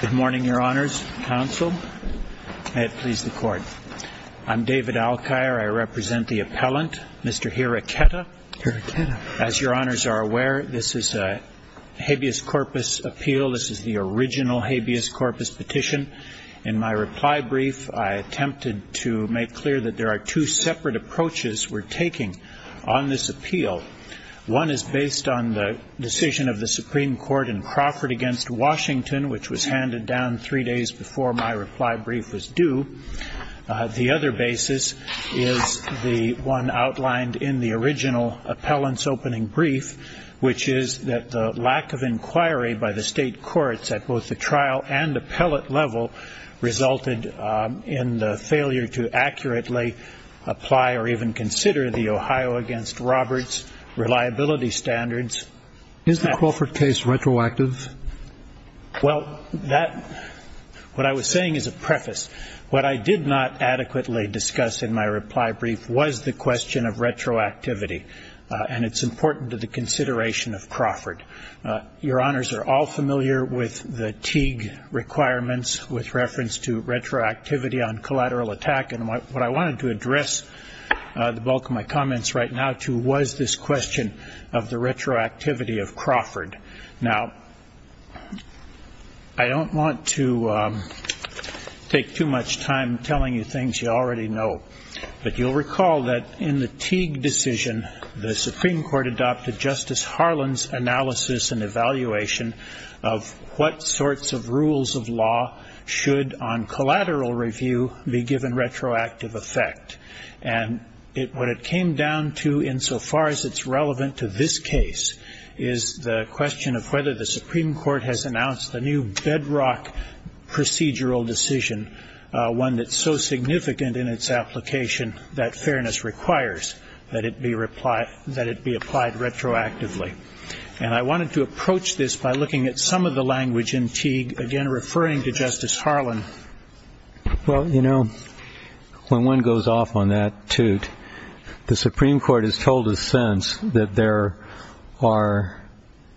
Good morning, Your Honors. Counsel, may it please the Court. I'm David Alkire. I represent the appellant, Mr. Hiracheta. As Your Honors are aware, this is a habeas corpus appeal. This is the original habeas corpus petition. In my reply brief, I attempted to make clear that there are two separate approaches we're taking on this appeal. One is based on the decision of the Supreme Court in Crawford v. Washington, which was handed down three days before my reply brief was due. The other basis is the one outlined in the original appellant's opening brief, which is that the lack of inquiry by the state courts at both the trial and appellate level resulted in the failure to accurately apply or even consider the Ohio v. Roberts reliability standards. Is the Crawford case retroactive? Well, what I was saying is a preface. What I did not adequately discuss in my reply brief was the question of retroactivity, Your Honors are all familiar with the Teague requirements with reference to retroactivity on collateral attack, and what I wanted to address the bulk of my comments right now to was this question of the retroactivity of Crawford. Now, I don't want to take too much time telling you things you already know, but you'll recall that in the Teague decision, the Supreme Court adopted Justice Harlan's analysis and evaluation of what sorts of rules of law should, on collateral review, be given retroactive effect. And what it came down to, insofar as it's relevant to this case, is the question of whether the Supreme Court has announced the new bedrock procedural decision, one that's so significant in its application that fairness requires that it be applied retroactively. And I wanted to approach this by looking at some of the language in Teague, again referring to Justice Harlan. Well, you know, when one goes off on that toot, the Supreme Court has told us since that there are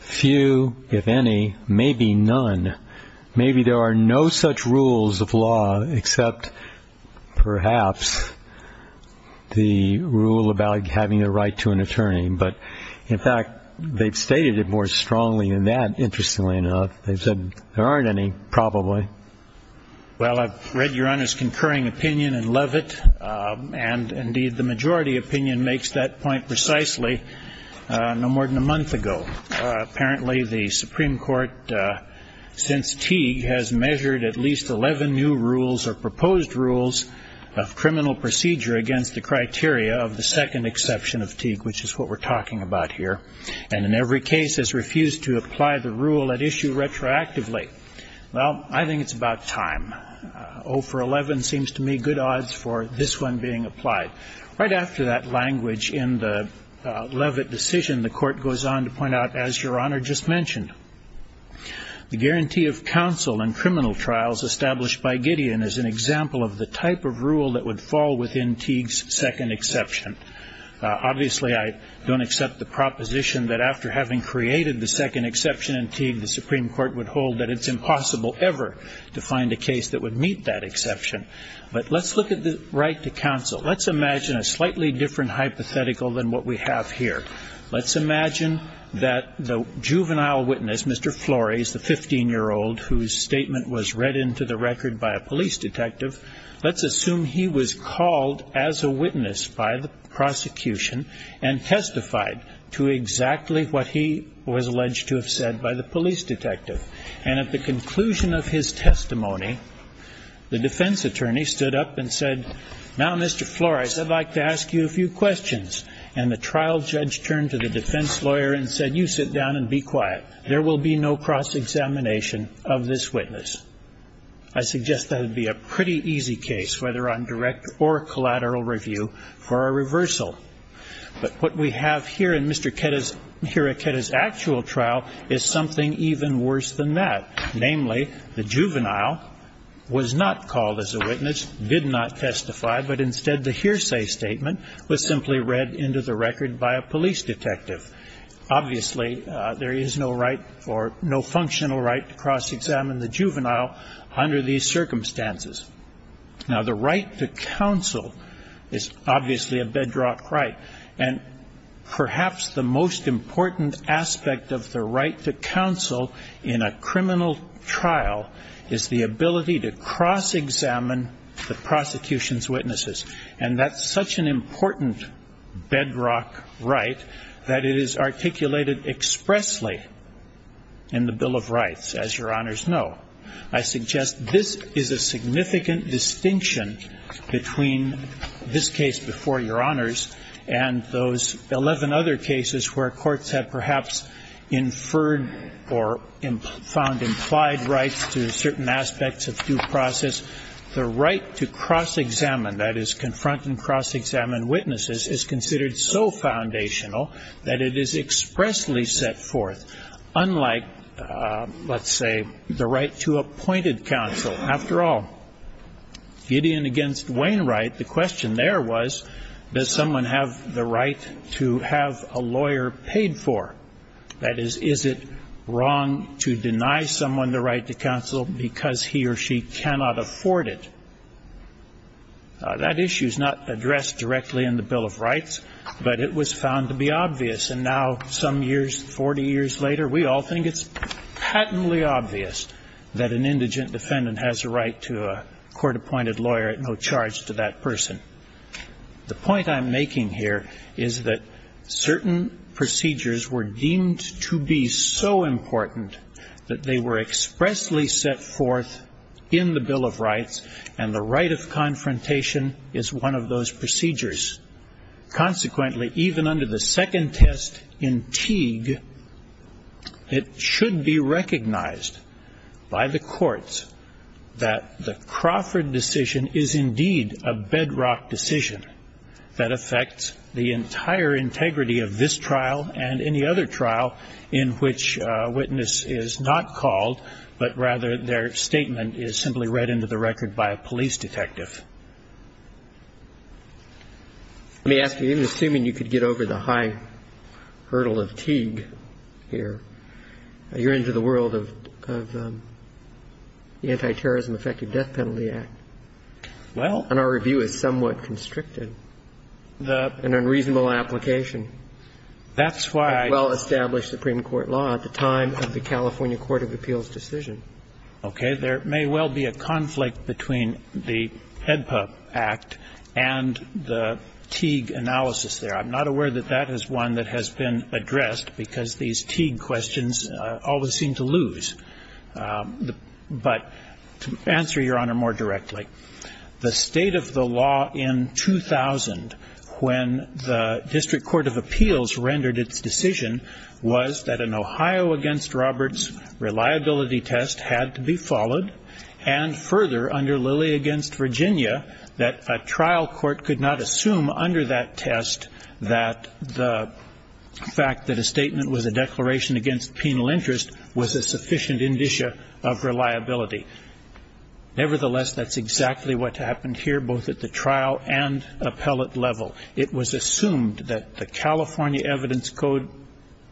few, if any, maybe none, maybe there are no such rules of law except perhaps the rule about having a right to an attorney. But, in fact, they've stated it more strongly than that, interestingly enough. They've said there aren't any, probably. Well, I've read Your Honor's concurring opinion and love it, and indeed the majority opinion makes that point precisely no more than a month ago. Apparently the Supreme Court, since Teague, has measured at least 11 new rules or proposed rules of criminal procedure against the criteria of the second exception of Teague, which is what we're talking about here, and in every case has refused to apply the rule at issue retroactively. Well, I think it's about time. 0 for 11 seems to me good odds for this one being applied. Right after that language in the Levitt decision, the Court goes on to point out, as Your Honor just mentioned, the guarantee of counsel in criminal trials established by Gideon is an example of the type of rule that would fall within Teague's second exception. Obviously, I don't accept the proposition that after having created the second exception in Teague, the Supreme Court would hold that it's impossible ever to find a case that would meet that exception. But let's look at the right to counsel. Let's imagine a slightly different hypothetical than what we have here. Let's imagine that the juvenile witness, Mr. Flores, the 15-year-old, whose statement was read into the record by a police detective, let's assume he was called as a witness by the prosecution and testified to exactly what he was alleged to have said by the police detective. And at the conclusion of his testimony, the defense attorney stood up and said, now, Mr. Flores, I'd like to ask you a few questions. And the trial judge turned to the defense lawyer and said, you sit down and be quiet. There will be no cross-examination of this witness. I suggest that it would be a pretty easy case, whether on direct or collateral review, for a reversal. But what we have here in Mr. Hiraketa's actual trial is something even worse than that. Namely, the juvenile was not called as a witness, did not testify, but instead the hearsay statement was simply read into the record by a police detective. Obviously, there is no right or no functional right to cross-examine the juvenile under these circumstances. Now, the right to counsel is obviously a bedrock right. And perhaps the most important aspect of the right to counsel in a criminal trial is the ability to cross-examine the prosecution's witnesses. And that's such an important bedrock right that it is articulated expressly in the Bill of Rights, as your honors know. I suggest this is a significant distinction between this case before your honors and those 11 other cases where courts have perhaps inferred or found implied rights to certain aspects of due process. The right to cross-examine, that is, confront and cross-examine witnesses, is considered so foundational that it is expressly set forth. Unlike, let's say, the right to appointed counsel. After all, Gideon against Wainwright, the question there was, does someone have the right to have a lawyer paid for? That is, is it wrong to deny someone the right to counsel because he or she cannot afford it? That issue is not addressed directly in the Bill of Rights, but it was found to be obvious. And now some years, 40 years later, we all think it's patently obvious that an indigent defendant has a right to a court-appointed lawyer at no charge to that person. The point I'm making here is that certain procedures were deemed to be so important that they were expressly set forth in the Bill of Rights, and the right of confrontation is one of those procedures. Consequently, even under the second test in Teague, it should be recognized by the courts that the Crawford decision is indeed a bedrock decision that affects the entire integrity of this trial and any other trial in which a witness is not called, but rather their statement is simply read into the record by a police detective. Let me ask you, even assuming you could get over the high hurdle of Teague here, you're into the world of the Anti-Terrorism Effective Death Penalty Act. Well. And our review is somewhat constricted, an unreasonable application. That's why. Well-established Supreme Court law at the time of the California Court of Appeals decision. Okay. There may well be a conflict between the HEDPA Act and the Teague analysis there. I'm not aware that that is one that has been addressed because these Teague questions always seem to lose. But to answer, Your Honor, more directly, the state of the law in 2000, when the District Court of Appeals rendered its decision, was that an Ohio against Roberts reliability test had to be followed, and further, under Lilly against Virginia, that a trial court could not assume under that test that the fact that a statement was a declaration against penal interest was a sufficient indicia of reliability. Nevertheless, that's exactly what happened here, both at the trial and appellate level. It was assumed that the California evidence code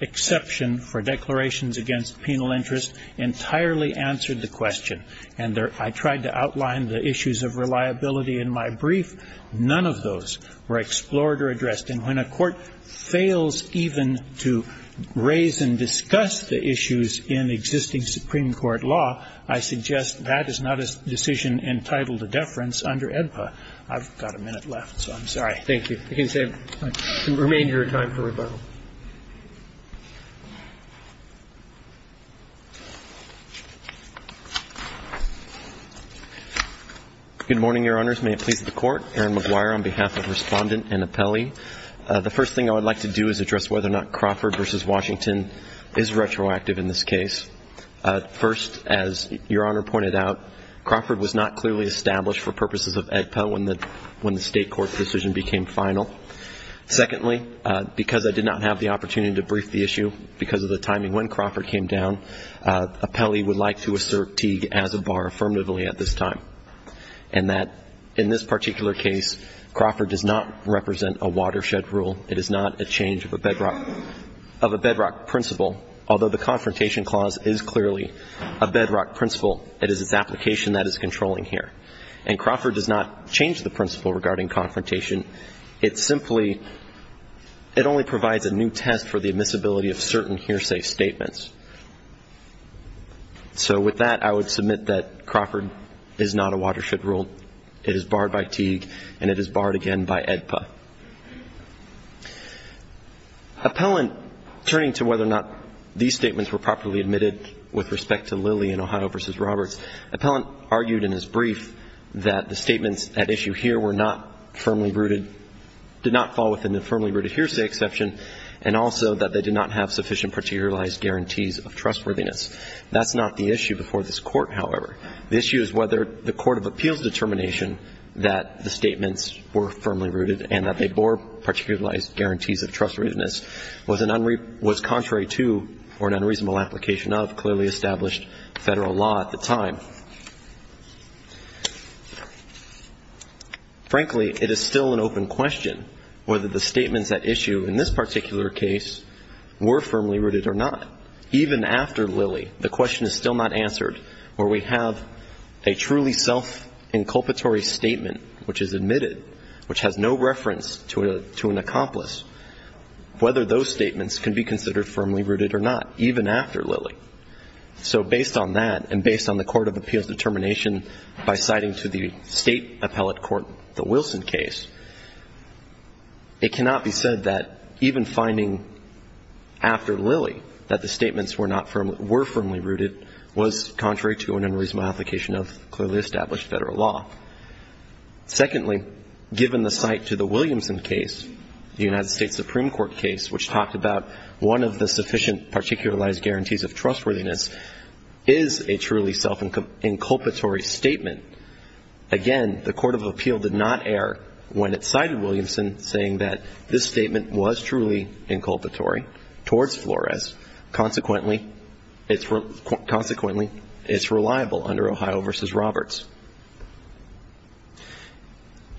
exception for declarations against penal interest entirely answered the question. And I tried to outline the issues of reliability in my brief. None of those were explored or addressed. And when a court fails even to raise and discuss the issues in existing Supreme Court law, I suggest that is not a decision entitled to deference under HEDPA. I've got a minute left, so I'm sorry. Thank you. You can remain here in time for rebuttal. Good morning, Your Honors. May it please the Court. Aaron McGuire on behalf of Respondent and Appellee. The first thing I would like to do is address whether or not Crawford v. Washington is retroactive in this case. First, as Your Honor pointed out, Crawford was not clearly established for purposes of HEDPA when the State court's decision became final. Secondly, because I did not have the opportunity to brief the issue, because of the timing when Crawford came down, appellee would like to assert Teague as a bar affirmatively at this time, and that in this particular case, Crawford does not represent a watershed rule. It is not a change of a bedrock principle, although the confrontation clause is clearly a bedrock principle. It is its application that is controlling here. And Crawford does not change the principle regarding confrontation. It simply, it only provides a new test for the admissibility of certain hearsay statements. So with that, I would submit that Crawford is not a watershed rule. It is barred by Teague, and it is barred again by HEDPA. Appellant, turning to whether or not these statements were properly admitted with respect to Lilly and Ohio v. Roberts, appellant argued in his brief that the statements at issue here were not firmly rooted, did not fall within the firmly rooted hearsay exception, and also that they did not have sufficient particularized guarantees of trustworthiness. That's not the issue before this Court, however. The issue is whether the court of appeals determination that the statements were firmly rooted and that they bore particularized guarantees of trustworthiness was contrary to or an unreasonable application of clearly established Federal law at the time. Frankly, it is still an open question whether the statements at issue in this particular case were firmly rooted or not. Even after Lilly, the question is still not answered where we have a truly self-inculpatory statement which is admitted, which has no reference to an accomplice, whether those statements were firmly rooted or not, even after Lilly. So based on that and based on the court of appeals determination by citing to the State appellate court the Wilson case, it cannot be said that even finding after Lilly that the statements were firmly rooted was contrary to an unreasonable application of clearly established Federal law. Secondly, given the cite to the Williamson case, the United States Supreme Court case, which talked about one of the sufficient particularized guarantees of trustworthiness is a truly self-inculpatory statement. Again, the court of appeal did not err when it cited Williamson saying that this statement was truly inculpatory towards Flores. Consequently, it's reliable under Ohio v. Roberts.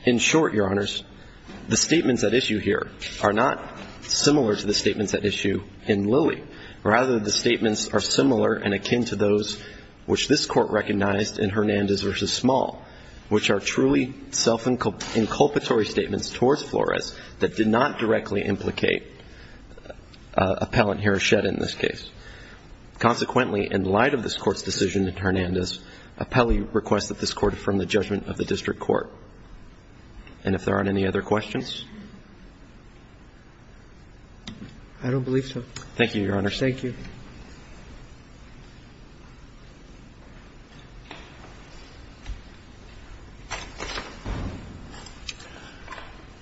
In short, Your Honors, the statements at issue here are not similar to the statements at issue in Lilly. Rather, the statements are similar and akin to those which this Court recognized in Hernandez v. Small, which are truly self-inculpatory statements towards Flores that did not directly implicate appellant Hiroshida in this case. Consequently, in light of this Court's decision in Hernandez, appellee requests that this Court affirm the judgment of the district court. And if there aren't any other questions? I don't believe so. Thank you, Your Honors. Thank you.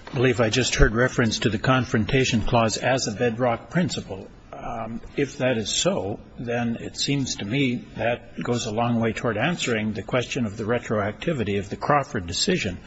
I believe I just heard reference to the confrontation clause as a bedrock principle. If that is so, then it seems to me that goes a long way toward answering the question of the retroactivity of the Crawford decision.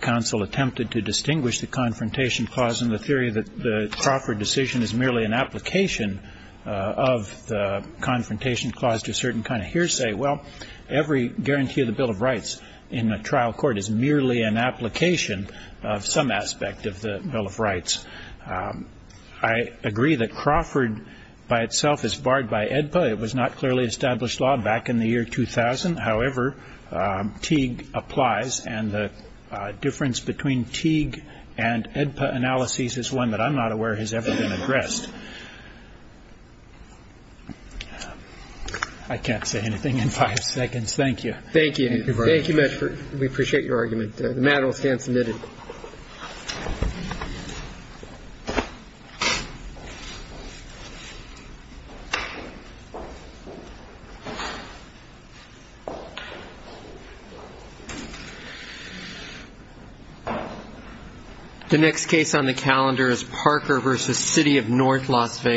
Counsel attempted to distinguish the confrontation clause in the theory that the Crawford decision is merely an application of the confrontation clause to a certain kind of hearsay. Well, every guarantee of the Bill of Rights in a trial court is merely an application of some aspect of the Bill of Rights. I agree that Crawford by itself is barred by AEDPA. It was not clearly established law back in the year 2000. However, Teague applies, and the difference between Teague and AEDPA analyses is one that I'm not aware has ever been addressed. I can't say anything in five seconds. Thank you. Thank you. Thank you very much. We appreciate your argument. The matter will stand submitted. The next case on the calendar is Parker v. City of North Las Vegas.